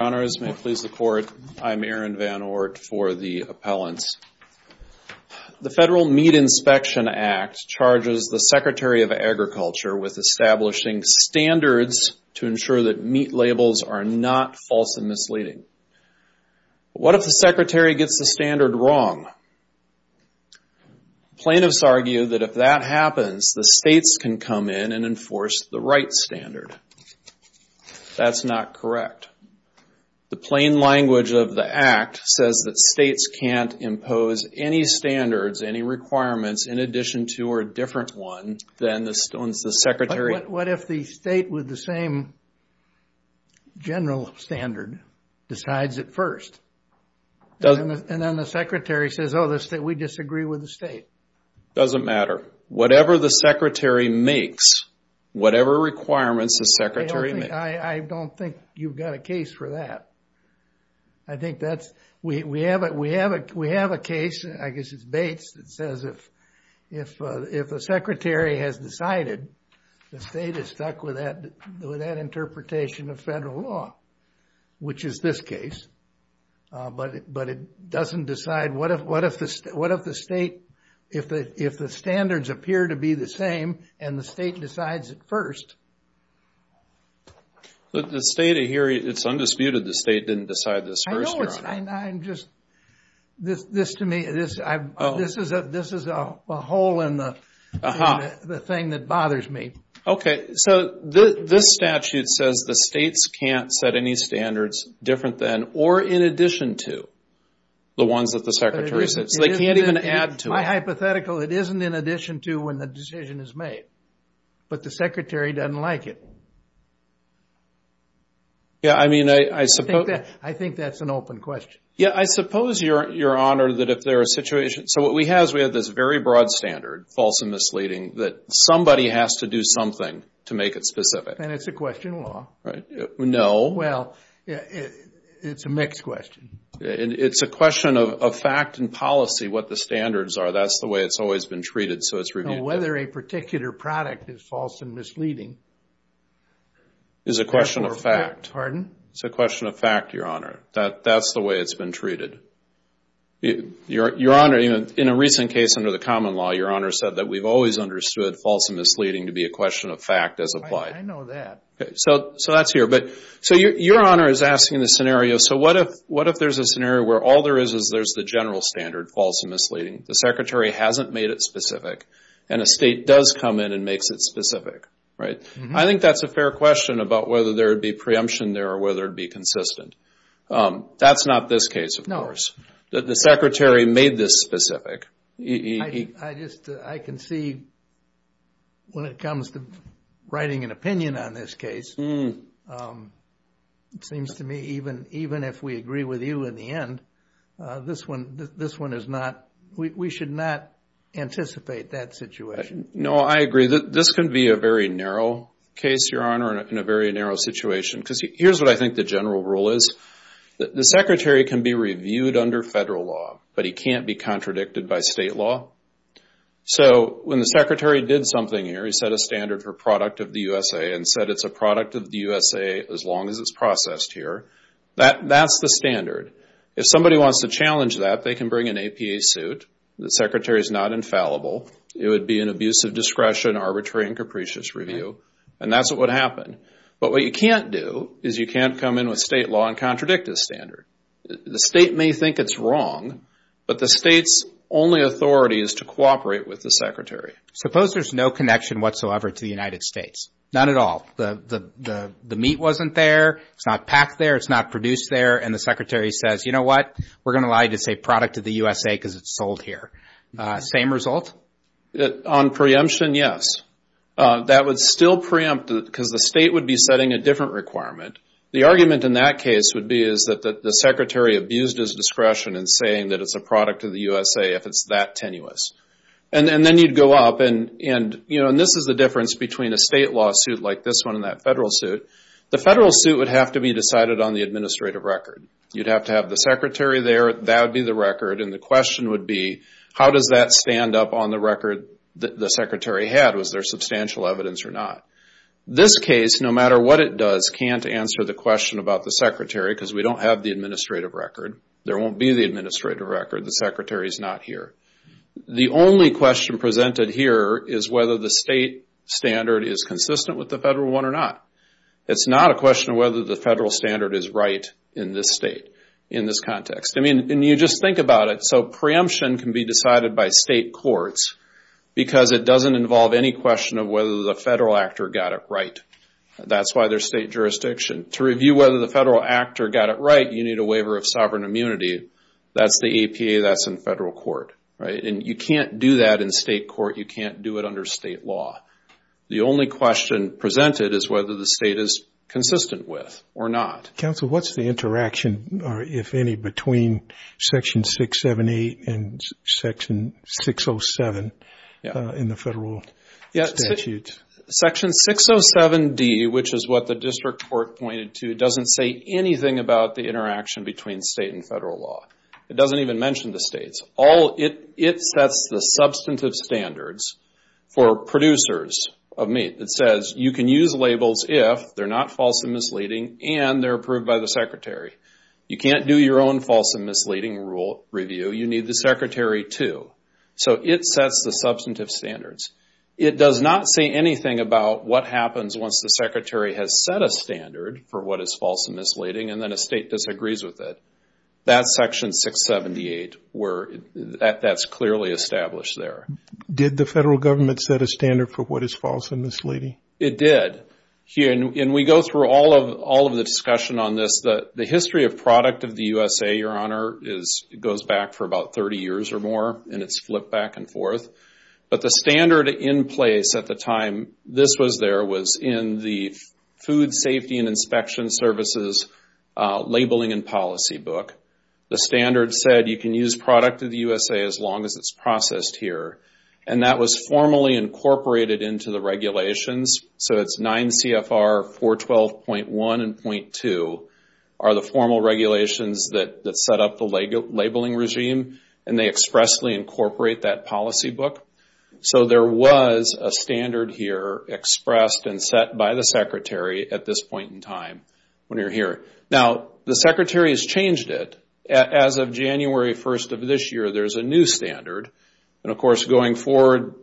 Honors, may it please the court, I'm Aaron Van Oort for the appellants. The Federal Meat Inspection Act charges the Secretary of Agriculture with establishing standards to ensure that meat labels are not false and misleading. What if the Secretary gets the standard wrong? Plaintiffs argue that if that happens, the states can come in and enforce the right standard. That's not correct. The plain language of the Act says that states can't impose any standards, any requirements in addition to or a different one than the Secretary... What if the state with the same general standard decides it first? And then the Secretary says, oh, we disagree with the state. Doesn't matter. Whatever the Secretary makes, whatever requirements the Secretary makes... I don't think you've got a case for that. I think that's... We have a case, I guess it's Bates, that says if a Secretary has decided, the state is stuck with that interpretation of federal law, which is this case. But it doesn't decide... What if the state, if the standards appear to be the same, and the state decides it first? The state here, it's undisputed the state didn't decide this first, Your Honor. I know, it's just, this to me, this is a hole in the thing that bothers me. Okay, so this statute says the states can't set any standards different than or in addition to the ones that the Secretary said, so they can't even add to it. My hypothetical, it isn't in addition to when the decision is made. But the Secretary doesn't like it. Yeah, I mean, I suppose... I think that's an open question. Yeah, I suppose, Your Honor, that if there are situations... So what we have is we have this very broad standard, false and misleading, that somebody has to do something to make it specific. And it's a question of law. No. Well, it's a mixed question. It's a question of fact and policy, what the standards are. That's the way it's always been treated, so it's reviewed. Whether a particular product is false and misleading... Is a question of fact. Pardon? It's a question of fact, Your Honor. That's the way it's been treated. Your Honor, in a recent case under the common law, Your Honor said that we've always understood false and misleading to be a question of fact as applied. I know that. Okay, so that's here. So Your Honor is asking the scenario, so what if there's a scenario where all there is is there's the general standard, false and misleading. The Secretary hasn't made it specific. And a state does come in and makes it specific, right? I think that's a fair question about whether there'd be preemption there or whether it'd be consistent. That's not this case, of course. The Secretary made this specific. I just, I can see when it comes to writing an opinion on this case, it seems to me even if we agree with you in the end, this one is not, we should not anticipate that situation. No, I agree. This can be a very narrow case, Your Honor, in a very narrow situation because here's what I think the general rule is. The Secretary can be reviewed under federal law, but he can't be contradicted by state law. So when the Secretary did something here, he set a standard for product of the USA and said it's a product of the USA as long as it's processed here. That's the standard. If somebody wants to challenge that, they can bring an APA suit. The Secretary's not infallible. It would be an abuse of discretion, arbitrary and capricious review. And that's what would happen. But what you can't do is you can't come in with state law and contradict this standard. The state may think it's wrong, but the state's only authority is to cooperate with the Secretary. Suppose there's no connection whatsoever to the United States, none at all. The meat wasn't there. It's not packed there. It's not produced there. And the Secretary says, you know what? We're going to allow you to say product of the USA because it's sold here. Same result? On preemption, yes. That would still preempt because the state would be setting a different requirement. The argument in that case would be is that the Secretary abused his discretion in saying that it's a product of the USA if it's that tenuous. And then you'd go up and, you know, and this is the difference between a state lawsuit like this one and that federal suit. The federal suit would have to be decided on the administrative record. You'd have to have the Secretary there. That would be the record. And the question would be, how does that stand up on the record that the Secretary had? Was there substantial evidence or not? This case, no matter what it does, can't answer the question about the Secretary because we don't have the administrative record. There won't be the administrative record. The Secretary's not here. The only question presented here is whether the state standard is consistent with the federal one or not. It's not a question of whether the federal standard is right in this state, in this context. I mean, and you just think about it. So preemption can be decided by state courts because it doesn't involve any question of whether the federal actor got it right. That's why there's state jurisdiction. To review whether the federal actor got it right, you need a waiver of sovereign immunity. That's the APA. That's in federal court. Right? And you can't do that in state court. You can't do it under state law. The only question presented is whether the state is consistent with or not. Counsel, what's the interaction, if any, between Section 678 and Section 607 in the federal statutes? Section 607D, which is what the district court pointed to, doesn't say anything about the interaction between state and federal law. It doesn't even mention the states. It sets the substantive standards for producers of meat. It says you can use labels if they're not false and misleading and they're approved by the secretary. You can't do your own false and misleading rule review. You need the secretary to. So it sets the substantive standards. It does not say anything about what happens once the secretary has set a standard for what is false and misleading and then a state disagrees with it. That's Section 678 where that's clearly established there. Did the federal government set a standard for what is false and misleading? It did. And we go through all of the discussion on this. The history of product of the USA, Your Honor, goes back for about 30 years or more and it's flipped back and forth. But the standard in place at the time this was there was in the Food Safety and Inspection Services Labeling and Policy book. The standard said you can use product of the USA as long as it's processed here. And that was formally incorporated into the regulations. So it's 9 CFR 412.1 and .2 are the formal regulations that set up the labeling regime and they expressly incorporate that policy book. So there was a standard here expressed and set by the secretary at this point in time when you're here. Now, the secretary has changed it. As of January 1st of this year, there's a new standard and, of course, going forward,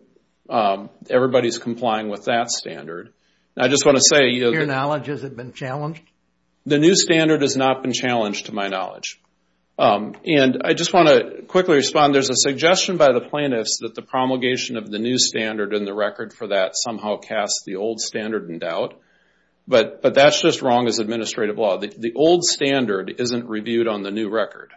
everybody's complying with that standard. I just want to say... Your knowledge, has it been challenged? The new standard has not been challenged to my knowledge. And I just want to quickly respond. There's a suggestion by the plaintiffs that the promulgation of the new standard and the record for that somehow casts the old standard in doubt. But that's just wrong as administrative law. The old standard isn't reviewed on the new record.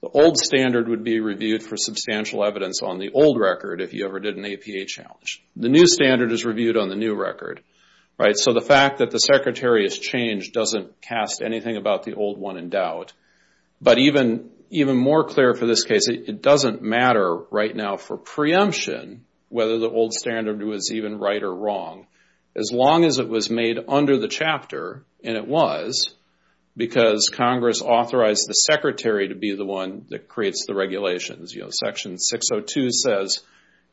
The old standard would be reviewed for substantial evidence on the old record if you ever did an APA challenge. The new standard is reviewed on the new record. So the fact that the secretary has changed doesn't cast anything about the old one in But even more clear for this case, it doesn't matter right now for preemption whether the old standard was even right or wrong. As long as it was made under the chapter, and it was, because Congress authorized the secretary to be the one that creates the regulations. Section 602 says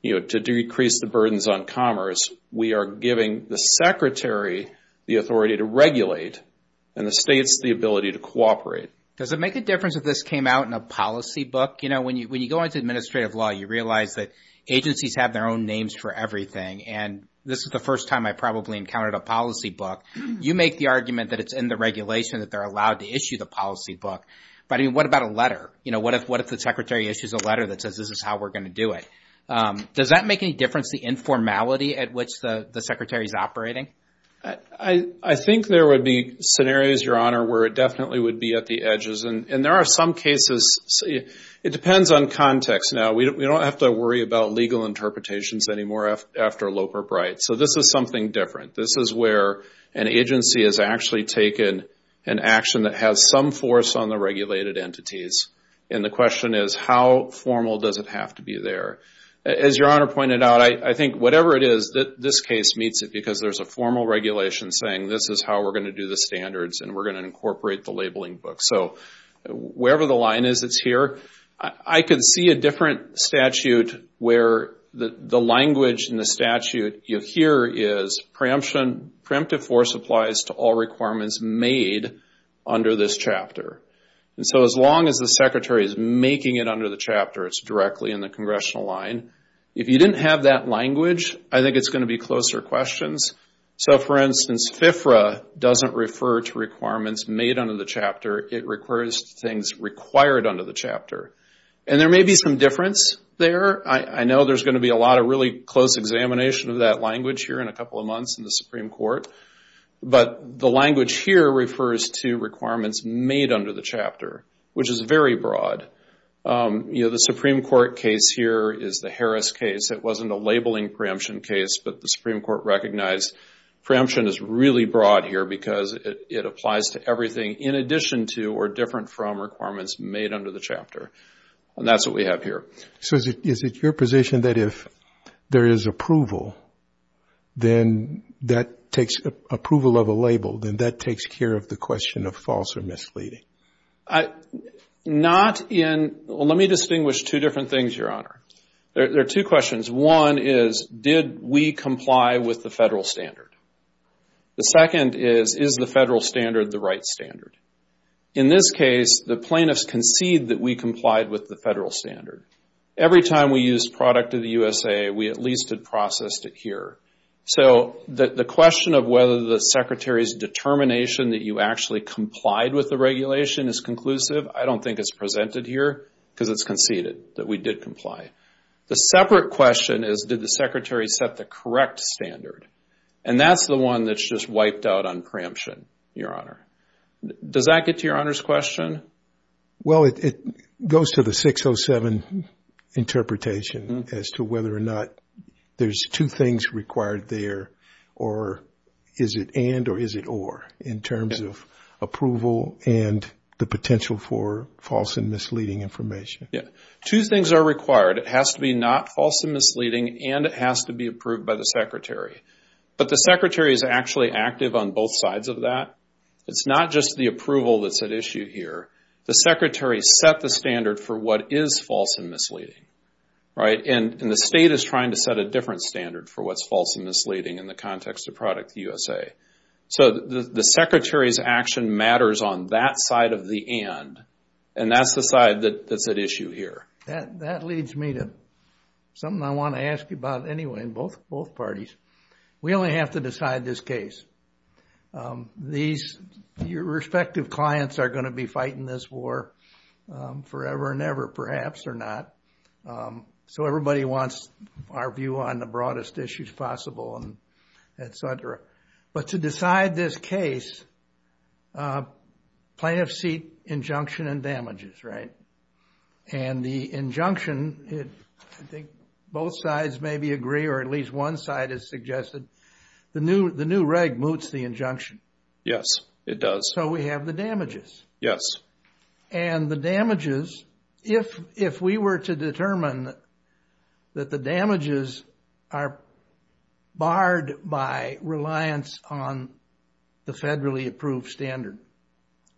to decrease the burdens on commerce, we are giving the secretary the authority to regulate and the states the ability to cooperate. Does it make a difference if this came out in a policy book? You know, when you go into administrative law, you realize that agencies have their own names for everything, and this is the first time I probably encountered a policy book. You make the argument that it's in the regulation that they're allowed to issue the policy book. But I mean, what about a letter? You know, what if the secretary issues a letter that says this is how we're going to do it? Does that make any difference, the informality at which the secretary is operating? I think there would be scenarios, Your Honor, where it definitely would be at the edges. And there are some cases, it depends on context now. We don't have to worry about legal interpretations anymore after Loper-Bright. So this is something different. This is where an agency has actually taken an action that has some force on the regulated entities, and the question is how formal does it have to be there? As Your Honor pointed out, I think whatever it is, this case meets it because there's a formal regulation saying this is how we're going to do the standards and we're going to incorporate the labeling book. So wherever the line is, it's here. I can see a different statute where the language in the statute here is preemptive force applies to all requirements made under this chapter. And so as long as the secretary is making it under the chapter, it's directly in the congressional line. If you didn't have that language, I think it's going to be closer questions. So for instance, FFRA doesn't refer to requirements made under the chapter, it refers to things required under the chapter. And there may be some difference there. I know there's going to be a lot of really close examination of that language here in a couple of months in the Supreme Court. But the language here refers to requirements made under the chapter, which is very broad. The Supreme Court case here is the Harris case. It wasn't a labeling preemption case, but the Supreme Court recognized preemption is really broad here because it applies to everything in addition to or different from requirements made under the chapter. And that's what we have here. So is it your position that if there is approval, then that takes approval of a label, then that takes care of the question of false or misleading? Not in, well, let me distinguish two different things, Your Honor. There are two questions. One is, did we comply with the federal standard? The second is, is the federal standard the right standard? In this case, the plaintiffs concede that we complied with the federal standard. Every time we used Product of the USA, we at least had processed it here. So the question of whether the Secretary's determination that you actually complied with the regulation is conclusive, I don't think it's presented here because it's conceded that we did comply. The separate question is, did the Secretary set the correct standard? And that's the one that's just wiped out on preemption, Your Honor. Does that get to Your Honor's question? Well, it goes to the 607 interpretation as to whether or not there's two things required there or is it and or is it or in terms of approval and the potential for false and misleading information. Two things are required. It has to be not false and misleading and it has to be approved by the Secretary. But the Secretary is actually active on both sides of that. It's not just the approval that's at issue here. The Secretary set the standard for what is false and misleading, right, and the state is trying to set a different standard for what's false and misleading in the context of Product of the USA. So the Secretary's action matters on that side of the and and that's the side that's at issue here. That leads me to something I want to ask you about anyway in both parties. We only have to decide this case. These respective clients are going to be fighting this war forever and ever, perhaps or not. So everybody wants our view on the broadest issues possible and et cetera. But to decide this case, plaintiff's seat injunction and damages, right? And the injunction, I think both sides maybe agree or at least one side has suggested the new the new reg moots the injunction. Yes, it does. So we have the damages. Yes. And the damages, if if we were to determine that the damages are barred by reliance on the federally approved standard,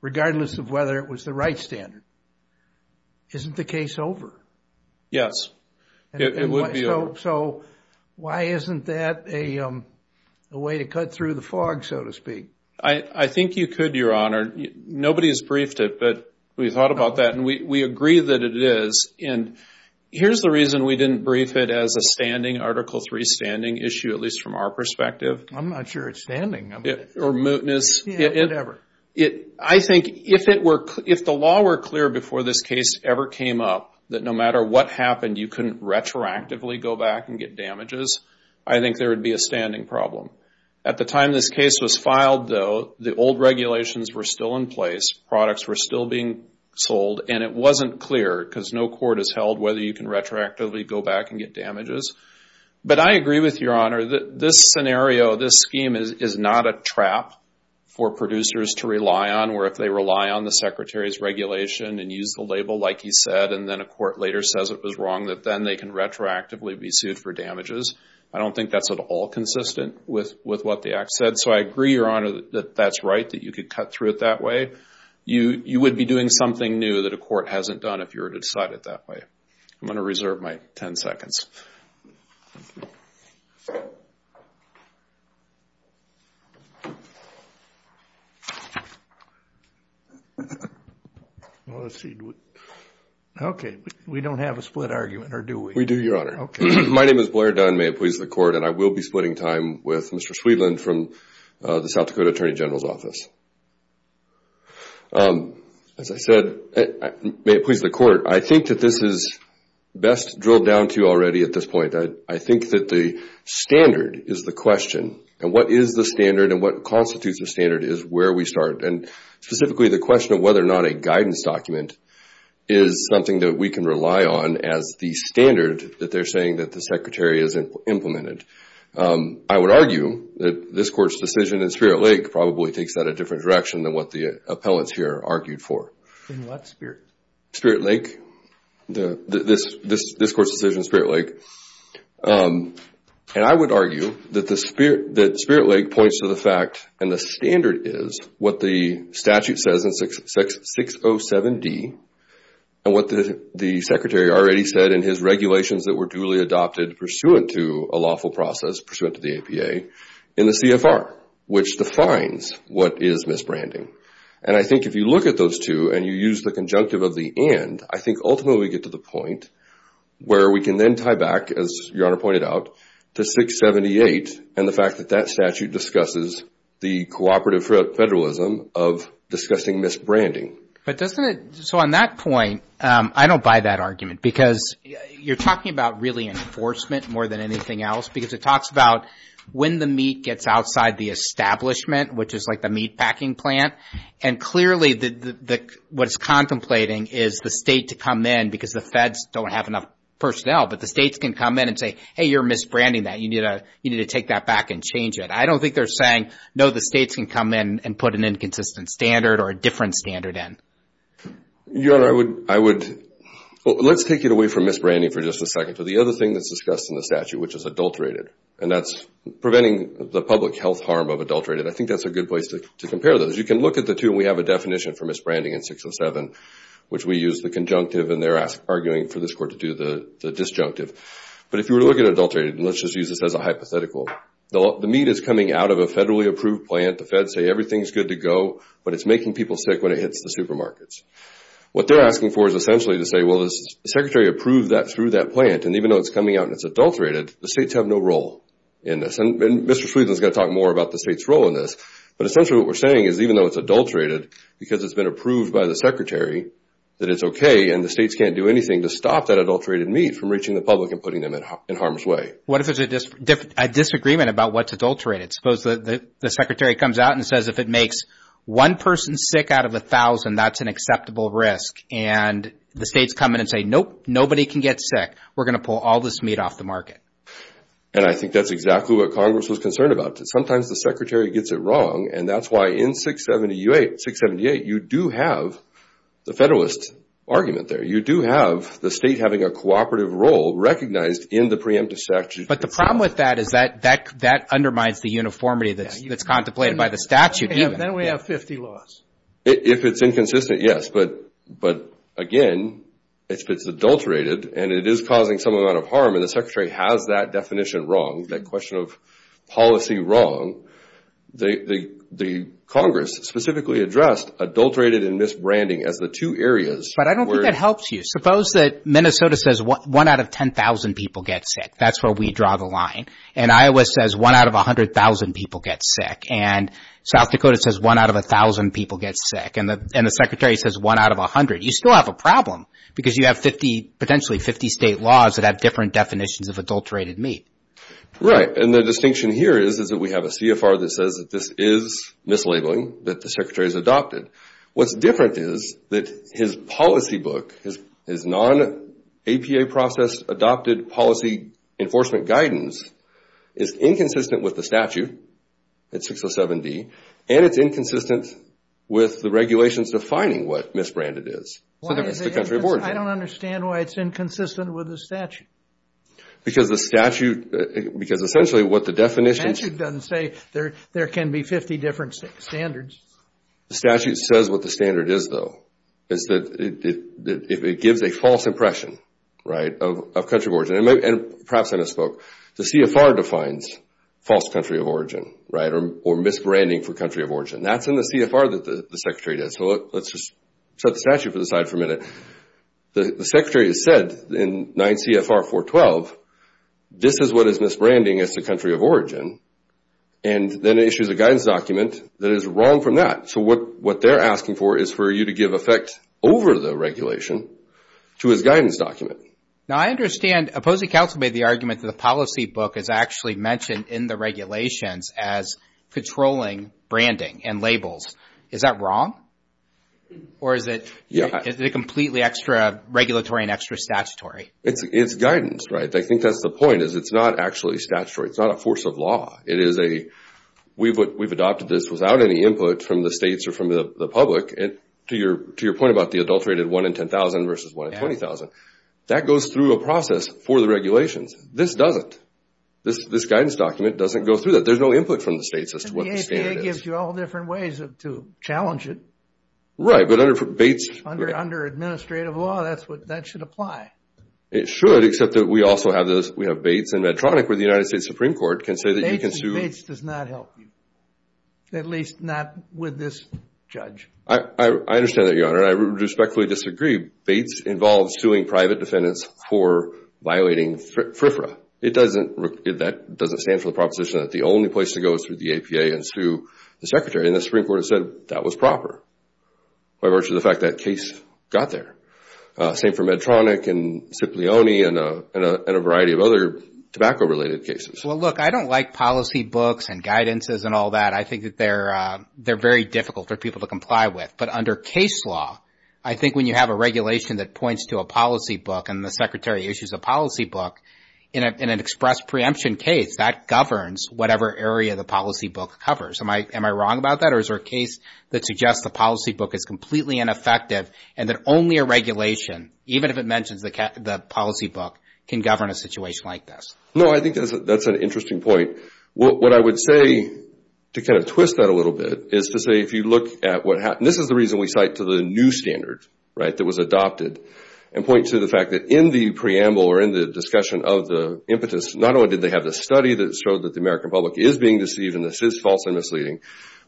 regardless of whether it was the right standard, isn't the case over? Yes, it would be over. So why isn't that a way to cut through the fog, so to speak? I think you could, Your Honor. Nobody has briefed it, but we thought about that and we agree that it is. And here's the reason we didn't brief it as a standing, Article III standing issue, at least from our perspective. I'm not sure it's standing. Or mootness. Yeah, whatever. I think if it were, if the law were clear before this case ever came up, that no matter what happened, you couldn't retroactively go back and get damages, I think there would be a standing problem. At the time this case was filed, though, the old regulations were still in place, products were still being sold, and it wasn't clear, because no court has held whether you can retroactively go back and get damages. But I agree with you, Your Honor, that this scenario, this scheme is not a trap for producers to rely on, where if they rely on the Secretary's regulation and use the label like he said, and then a court later says it was wrong, that then they can retroactively be sued for damages. I don't think that's at all consistent with what the Act said. So I agree, Your Honor, that that's right, that you could cut through it that way. You would be doing something new that a court hasn't done if you were to decide it that way. I'm going to reserve my 10 seconds. Okay, we don't have a split argument, or do we? We do, Your Honor. Okay. My name is Blair Dunn. May it please the Court. And I will be splitting time with Mr. Sweedland from the South Dakota Attorney General's Office. As I said, may it please the Court, I think that this is best drilled down to already at this point. I think that the standard is the question, and what is the standard and what constitutes the standard is where we start. And specifically, the question of whether or not a guidance document is something that we can rely on as the standard that they're saying that the Secretary has implemented. I would argue that this Court's decision in Spirit Lake probably takes that a different direction than what the appellants here argued for. In what Spirit? Spirit Lake, this Court's decision in Spirit Lake. And I would argue that Spirit Lake points to the fact and the standard is what the statute says in 607D and what the Secretary already said in his regulations that were duly adopted pursuant to a lawful process, pursuant to the APA, in the CFR, which defines what is misbranding. And I think if you look at those two and you use the conjunctive of the and, I think ultimately we get to the point where we can then tie back, as Your Honor pointed out, to 678 and the fact that that statute discusses the cooperative federalism of discussing misbranding. But doesn't it, so on that point, I don't buy that argument because you're talking about really enforcement more than anything else because it talks about when the meat gets outside the establishment, which is like the meatpacking plant. And clearly, what it's contemplating is the state to come in because the feds don't have enough personnel, but the states can come in and say, hey, you're misbranding that. You need to take that back and change it. I don't think they're saying, no, the states can come in and put an inconsistent standard or a different standard in. Your Honor, I would, let's take it away from misbranding for just a second. So the other thing that's discussed in the statute, which is adulterated, and that's preventing the public health harm of adulterated, I think that's a good place to compare those. You can look at the two and we have a definition for misbranding in 607, which we use the conjunctive and they're arguing for this court to do the disjunctive. But if you were to look at adulterated, and let's just use this as a hypothetical, the meat is coming out of a federally approved plant, the feds say everything's good to go, but it's making people sick when it hits the supermarkets. What they're asking for is essentially to say, well, the secretary approved that through that plant, and even though it's coming out and it's adulterated, the states have no role in this. And Mr. Sweedler's going to talk more about the state's role in this, but essentially what we're saying is even though it's adulterated, because it's been approved by the secretary, that it's okay and the states can't do anything to stop that adulterated meat from reaching the public and putting them in harm's way. What if there's a disagreement about what's adulterated? Suppose the secretary comes out and says if it makes one person sick out of a thousand, that's an acceptable risk, and the states come in and say, nope, nobody can get sick. We're going to pull all this meat off the market. And I think that's exactly what Congress was concerned about. Sometimes the secretary gets it wrong, and that's why in 678, you do have the federalist argument there. You do have the state having a cooperative role recognized in the preemptive statute. But the problem with that is that undermines the uniformity that's contemplated by the statute even. And then we have 50 laws. If it's inconsistent, yes, but again, if it's adulterated and it is causing some amount of harm and the secretary has that definition wrong, that question of policy wrong, the Congress specifically addressed adulterated and misbranding as the two areas. But I don't think that helps you. Suppose that Minnesota says one out of 10,000 people get sick. That's where we draw the line. And Iowa says one out of 100,000 people get sick. And South Dakota says one out of 1,000 people get sick. And the secretary says one out of 100. You still have a problem because you have potentially 50 state laws that have different definitions of adulterated meat. Right. And the distinction here is that we have a CFR that says that this is mislabeling that the secretary has adopted. What's different is that his policy book, his non-APA process adopted policy enforcement guidance is inconsistent with the statute, it's 607D, and it's inconsistent with the regulations defining what misbranded is. So that's the country of origin. I don't understand why it's inconsistent with the statute. Because the statute, because essentially what the definition... The statute doesn't say there can be 50 different standards. The statute says what the standard is though, is that it gives a false impression, right, of country of origin. And perhaps I misspoke. The CFR defines false country of origin, right, or misbranding for country of origin. That's in the CFR that the secretary did. So let's just set the statute to the side for a minute. The secretary has said in 9 CFR 412, this is what is misbranding as the country of origin. And then it issues a guidance document that is wrong from that. So what they're asking for is for you to give effect over the regulation to his guidance document. Now I understand opposing counsel made the argument that the policy book is actually mentioned in the regulations as controlling branding and labels. Is that wrong? Or is it completely extra regulatory and extra statutory? It's guidance, right? I think that's the point. It's not actually statutory. It's not a force of law. It is a, we've adopted this without any input from the states or from the public, to your point about the adulterated 1 in 10,000 versus 1 in 20,000. That goes through a process for the regulations. This doesn't. This guidance document doesn't go through that. There's no input from the states as to what the standard is. And the ACA gives you all different ways to challenge it. Right, but under Bates... Under administrative law, that should apply. It should, except that we also have those, we have Bates and Medtronic, where the United States Supreme Court can say that you can sue... Bates and Bates does not help you, at least not with this judge. I understand that, Your Honor, and I respectfully disagree. Bates involves suing private defendants for violating FRFRA. It doesn't, that doesn't stand for the proposition that the only place to go is through the APA and sue the Secretary. And the Supreme Court has said that was proper by virtue of the fact that case got there. Same for Medtronic and Cipollone and a variety of other tobacco-related cases. Well, look, I don't like policy books and guidances and all that. I think that they're very difficult for people to comply with. But under case law, I think when you have a regulation that points to a policy book and the Secretary issues a policy book in an express preemption case, that governs whatever area the policy book covers. Am I wrong about that? Or is there a case that suggests the policy book is completely ineffective and that only a regulation, even if it mentions the policy book, can govern a situation like this? No, I think that's an interesting point. What I would say, to kind of twist that a little bit, is to say if you look at what happened. This is the reason we cite to the new standard, right, that was adopted, and point to the fact that in the preamble or in the discussion of the impetus, not only did they have the study that showed that the American public is being deceived and this is false and misleading,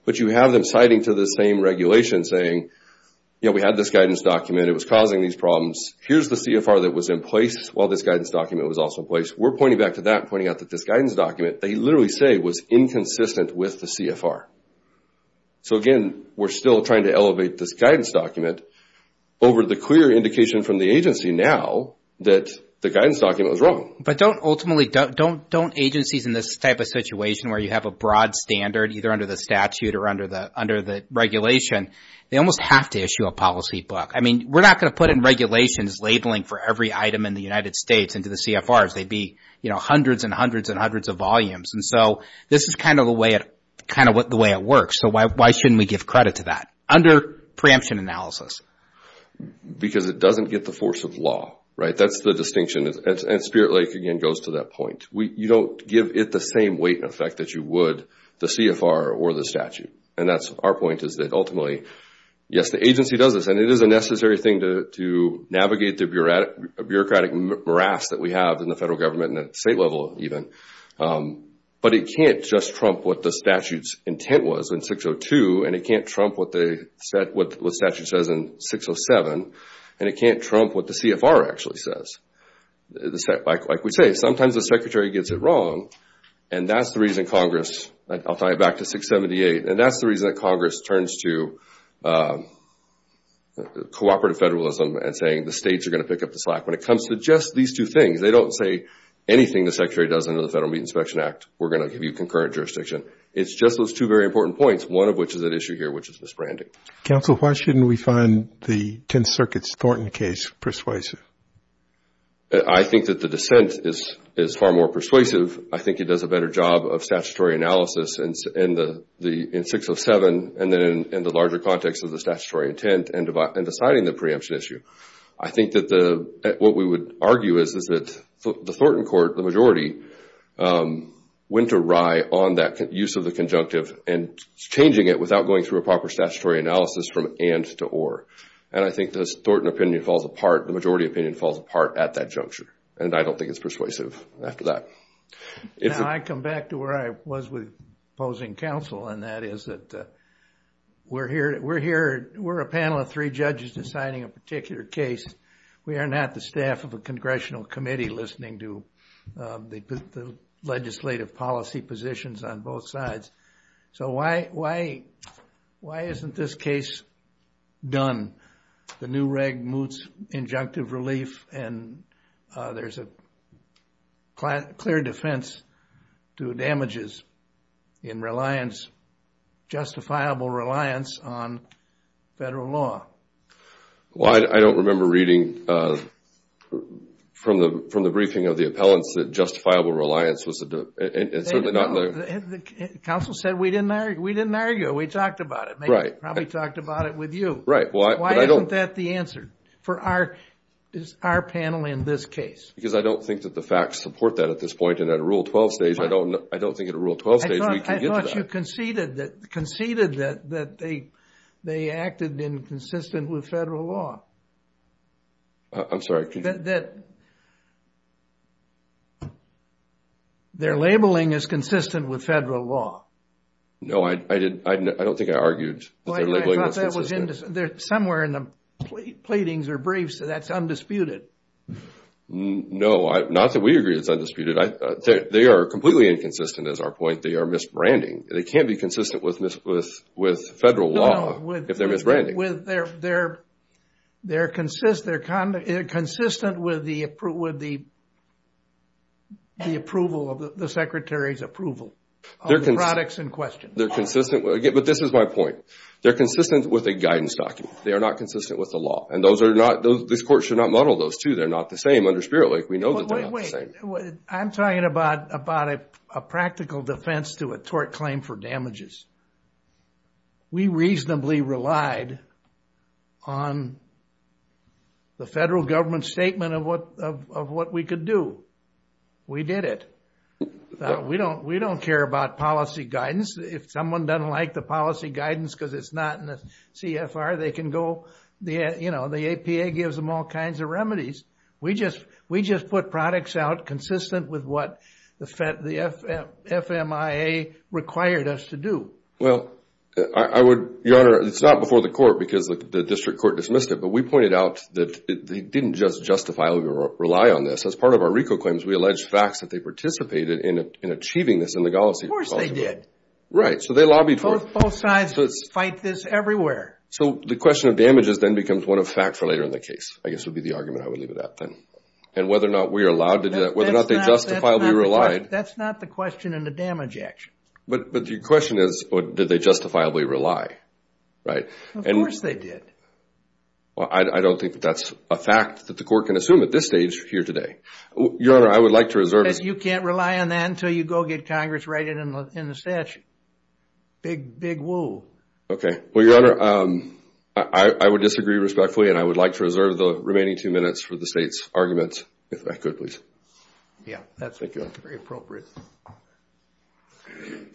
but you have them citing to the same regulation saying, you know, we had this guidance document, it was causing these problems, here's the CFR that was in place while this guidance document was also in place. We're pointing back to that, pointing out that this guidance document, they literally say was inconsistent with the CFR. So again, we're still trying to elevate this guidance document over the clear indication from the agency now that the guidance document was wrong. But don't ultimately, don't agencies in this type of situation where you have a broad standard, either under the statute or under the regulation, they almost have to issue a policy book. I mean, we're not going to put in regulations labeling for every item in the United States into the CFRs. They'd be, you know, hundreds and hundreds and hundreds of volumes. And so this is kind of the way it works. So why shouldn't we give credit to that under preemption analysis? Because it doesn't get the force of law, right? That's the distinction. And Spirit Lake, again, goes to that point. You don't give it the same weight and effect that you would the CFR or the statute. And that's our point, is that ultimately, yes, the agency does this. And it is a necessary thing to navigate the bureaucratic morass that we have in the federal government and at the state level, even. But it can't just trump what the statute's intent was in 602. And it can't trump what the statute says in 607. And it can't trump what the CFR actually says. Like we say, sometimes the secretary gets it wrong. And that's the reason Congress, I'll tie it back to 678. And that's the reason that Congress turns to cooperative federalism and saying the states are going to pick up the slack. When it comes to just these two things, they don't say anything the secretary does under the Federal Meat Inspection Act, we're going to give you concurrent jurisdiction. It's just those two very important points, one of which is at issue here, which is misbranding. Counsel, why shouldn't we find the Tenth Circuit's Thornton case persuasive? I think that the dissent is far more persuasive. I think it does a better job of statutory analysis in 607 and then in the larger context of the statutory intent and deciding the preemption issue. I think that what we would argue is that the Thornton court, the majority, went awry on that use of the conjunctive and changing it without going through a proper statutory analysis from and to or. And I think the Thornton opinion falls apart, the majority opinion falls apart at that juncture. And I don't think it's persuasive after that. Now, I come back to where I was with opposing counsel and that is that we're a panel of three judges deciding a particular case. We are not the staff of a congressional committee listening to the legislative policy positions on both sides. So why isn't this case done? The new reg moots injunctive relief and there's a clear defense to damages in reliance, justifiable reliance on federal law. Well, I don't remember reading from the briefing of the appellants that justifiable reliance was a... And certainly not... Counsel said we didn't argue, we didn't argue, we talked about it. Right. Probably talked about it with you. Right. Why isn't that the answer for our panel in this case? Because I don't think that the facts support that at this point and at a Rule 12 stage, I don't think at a Rule 12 stage we can get to that. I thought you conceded that they acted inconsistent with federal law. I'm sorry, could you... Their labeling is consistent with federal law. No, I don't think I argued that their labeling was consistent. Somewhere in the pleadings or briefs, that's undisputed. No, not that we agree it's undisputed. They are completely inconsistent as our point, they are misbranding. They can't be consistent with federal law if they're misbranding. They're consistent with the approval of the Secretary's approval of the products in question. They're consistent... But this is my point. They're consistent with a guidance document. They are not consistent with the law. And those are not... This court should not muddle those two. They're not the same under Spirit Lake. We know that they're not the same. Wait, wait, wait. I'm talking about a practical defense to a tort claim for damages. We reasonably relied on the federal government's statement of what we could do. We did it. We don't care about policy guidance. If someone doesn't like the policy guidance because it's not in the CFR, they can go... The APA gives them all kinds of remedies. We just put products out consistent with what the FMIA required us to do. Well, I would... Your Honor, it's not before the court because the district court dismissed it, but we pointed out that they didn't just justifiably rely on this. As part of our RICO claims, we allege facts that they participated in achieving this in Right. So they lobbied for it. Both sides fight this everywhere. So the question of damages then becomes one of facts later in the case, I guess would be the argument I would leave with that then. And whether or not we are allowed to do that, whether or not they justifiably relied... That's not the question in the damage action. But your question is, did they justifiably rely? Right? Of course they did. I don't think that's a fact that the court can assume at this stage here today. Your Honor, I would like to reserve... You can't rely on that until you go get Congress writing it in the statute. Big woo. Okay. Well, your Honor, I would disagree respectfully, and I would like to reserve the remaining two minutes for the state's arguments, if I could please. Yeah. That's very appropriate. Thank you.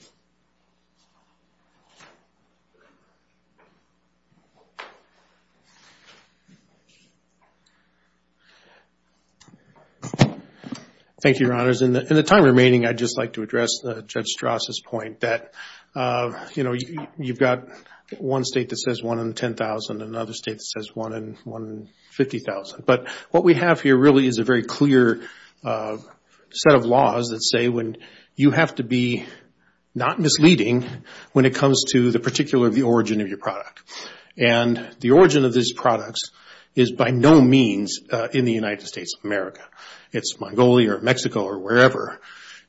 Thank you, Your Honor. Your Honors, in the time remaining, I'd just like to address Judge Strasse's point that, you know, you've got one state that says one in 10,000, another state that says one in 50,000. But what we have here really is a very clear set of laws that say you have to be not misleading when it comes to the particular origin of your product. And the origin of these products is by no means in the United States of America. It's Mongolia or Mexico or wherever.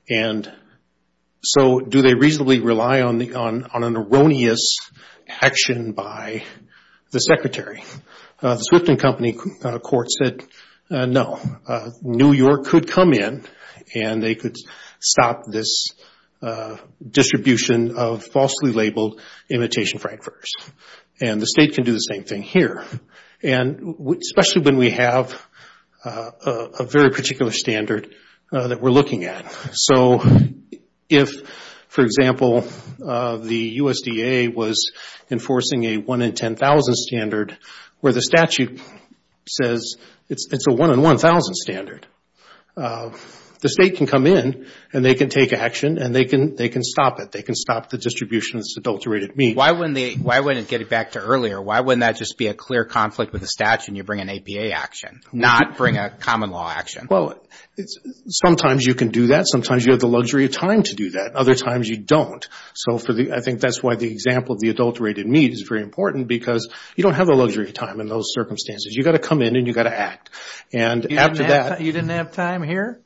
And so, do they reasonably rely on an erroneous action by the Secretary? The Swift & Company Court said, no. New York could come in and they could stop this distribution of falsely labeled imitation frankfurters. And the state can do the same thing here. And especially when we have a very particular standard that we're looking at. So if, for example, the USDA was enforcing a one in 10,000 standard where the statute says it's a one in 1,000 standard, the state can come in and they can take action and they can stop it. They can stop the distribution of this adulterated meat. Why wouldn't they? Why wouldn't it get it back to earlier? Why wouldn't that just be a clear conflict with the statute and you bring an APA action? Not bring a common law action? Well, sometimes you can do that. Sometimes you have the luxury of time to do that. Other times you don't. So I think that's why the example of the adulterated meat is very important because you don't have the luxury of time in those circumstances. You got to come in and you got to act. And after that... You didn't have time here?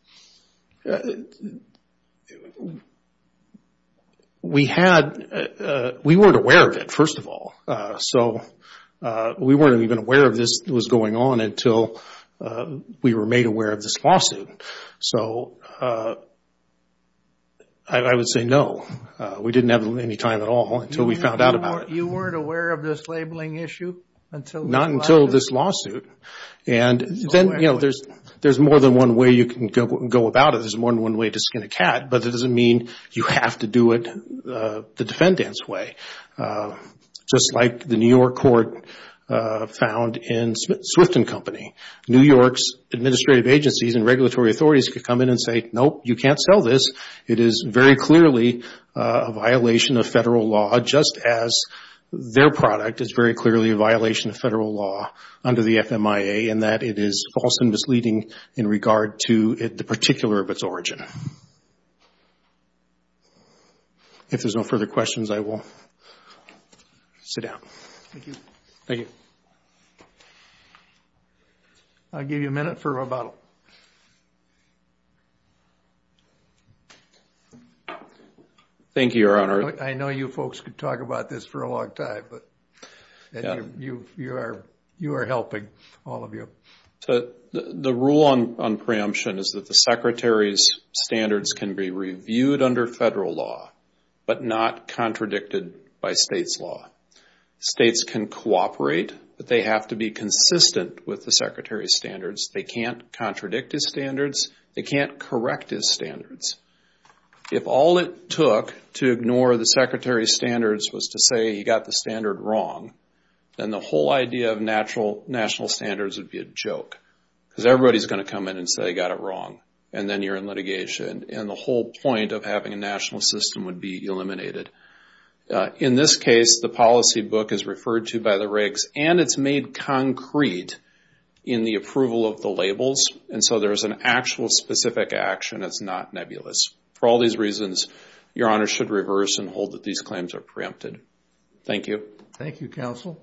We had... We weren't aware of it, first of all. So we weren't even aware of this was going on until we were made aware of this lawsuit. So I would say no. We didn't have any time at all until we found out about it. You weren't aware of this labeling issue until... Not until this lawsuit. And then, you know, there's more than one way you can go about it. There's more than one way to skin a cat, but that doesn't mean you have to do it the defendant's way. Just like the New York court found in Swifton Company. New York's administrative agencies and regulatory authorities could come in and say, nope, you can't sell this. It is very clearly a violation of federal law, just as their product is very clearly a violation of federal law under the FMIA in that it is false and misleading in regard to the particular of its origin. If there's no further questions, I will sit down. Thank you. Thank you. I'll give you a minute for rebuttal. Thank you, Your Honor. I know you folks could talk about this for a long time, but you are helping, all of you. The rule on preemption is that the Secretary's standards can be reviewed under federal law, but not contradicted by states' law. States can cooperate, but they have to be consistent with the Secretary's standards. They can't contradict his standards. They can't correct his standards. If all it took to ignore the Secretary's standards was to say he got the standard wrong, then the whole idea of national standards would be a joke, because everybody's going to come in and say he got it wrong, and then you're in litigation, and the whole point of having a national system would be eliminated. In this case, the policy book is referred to by the regs, and it's made concrete in the approval of the labels, and so there's an actual specific action that's not nebulous. For all these reasons, Your Honor should reverse and hold that these claims are preempted. Thank you. Thank you, counsel.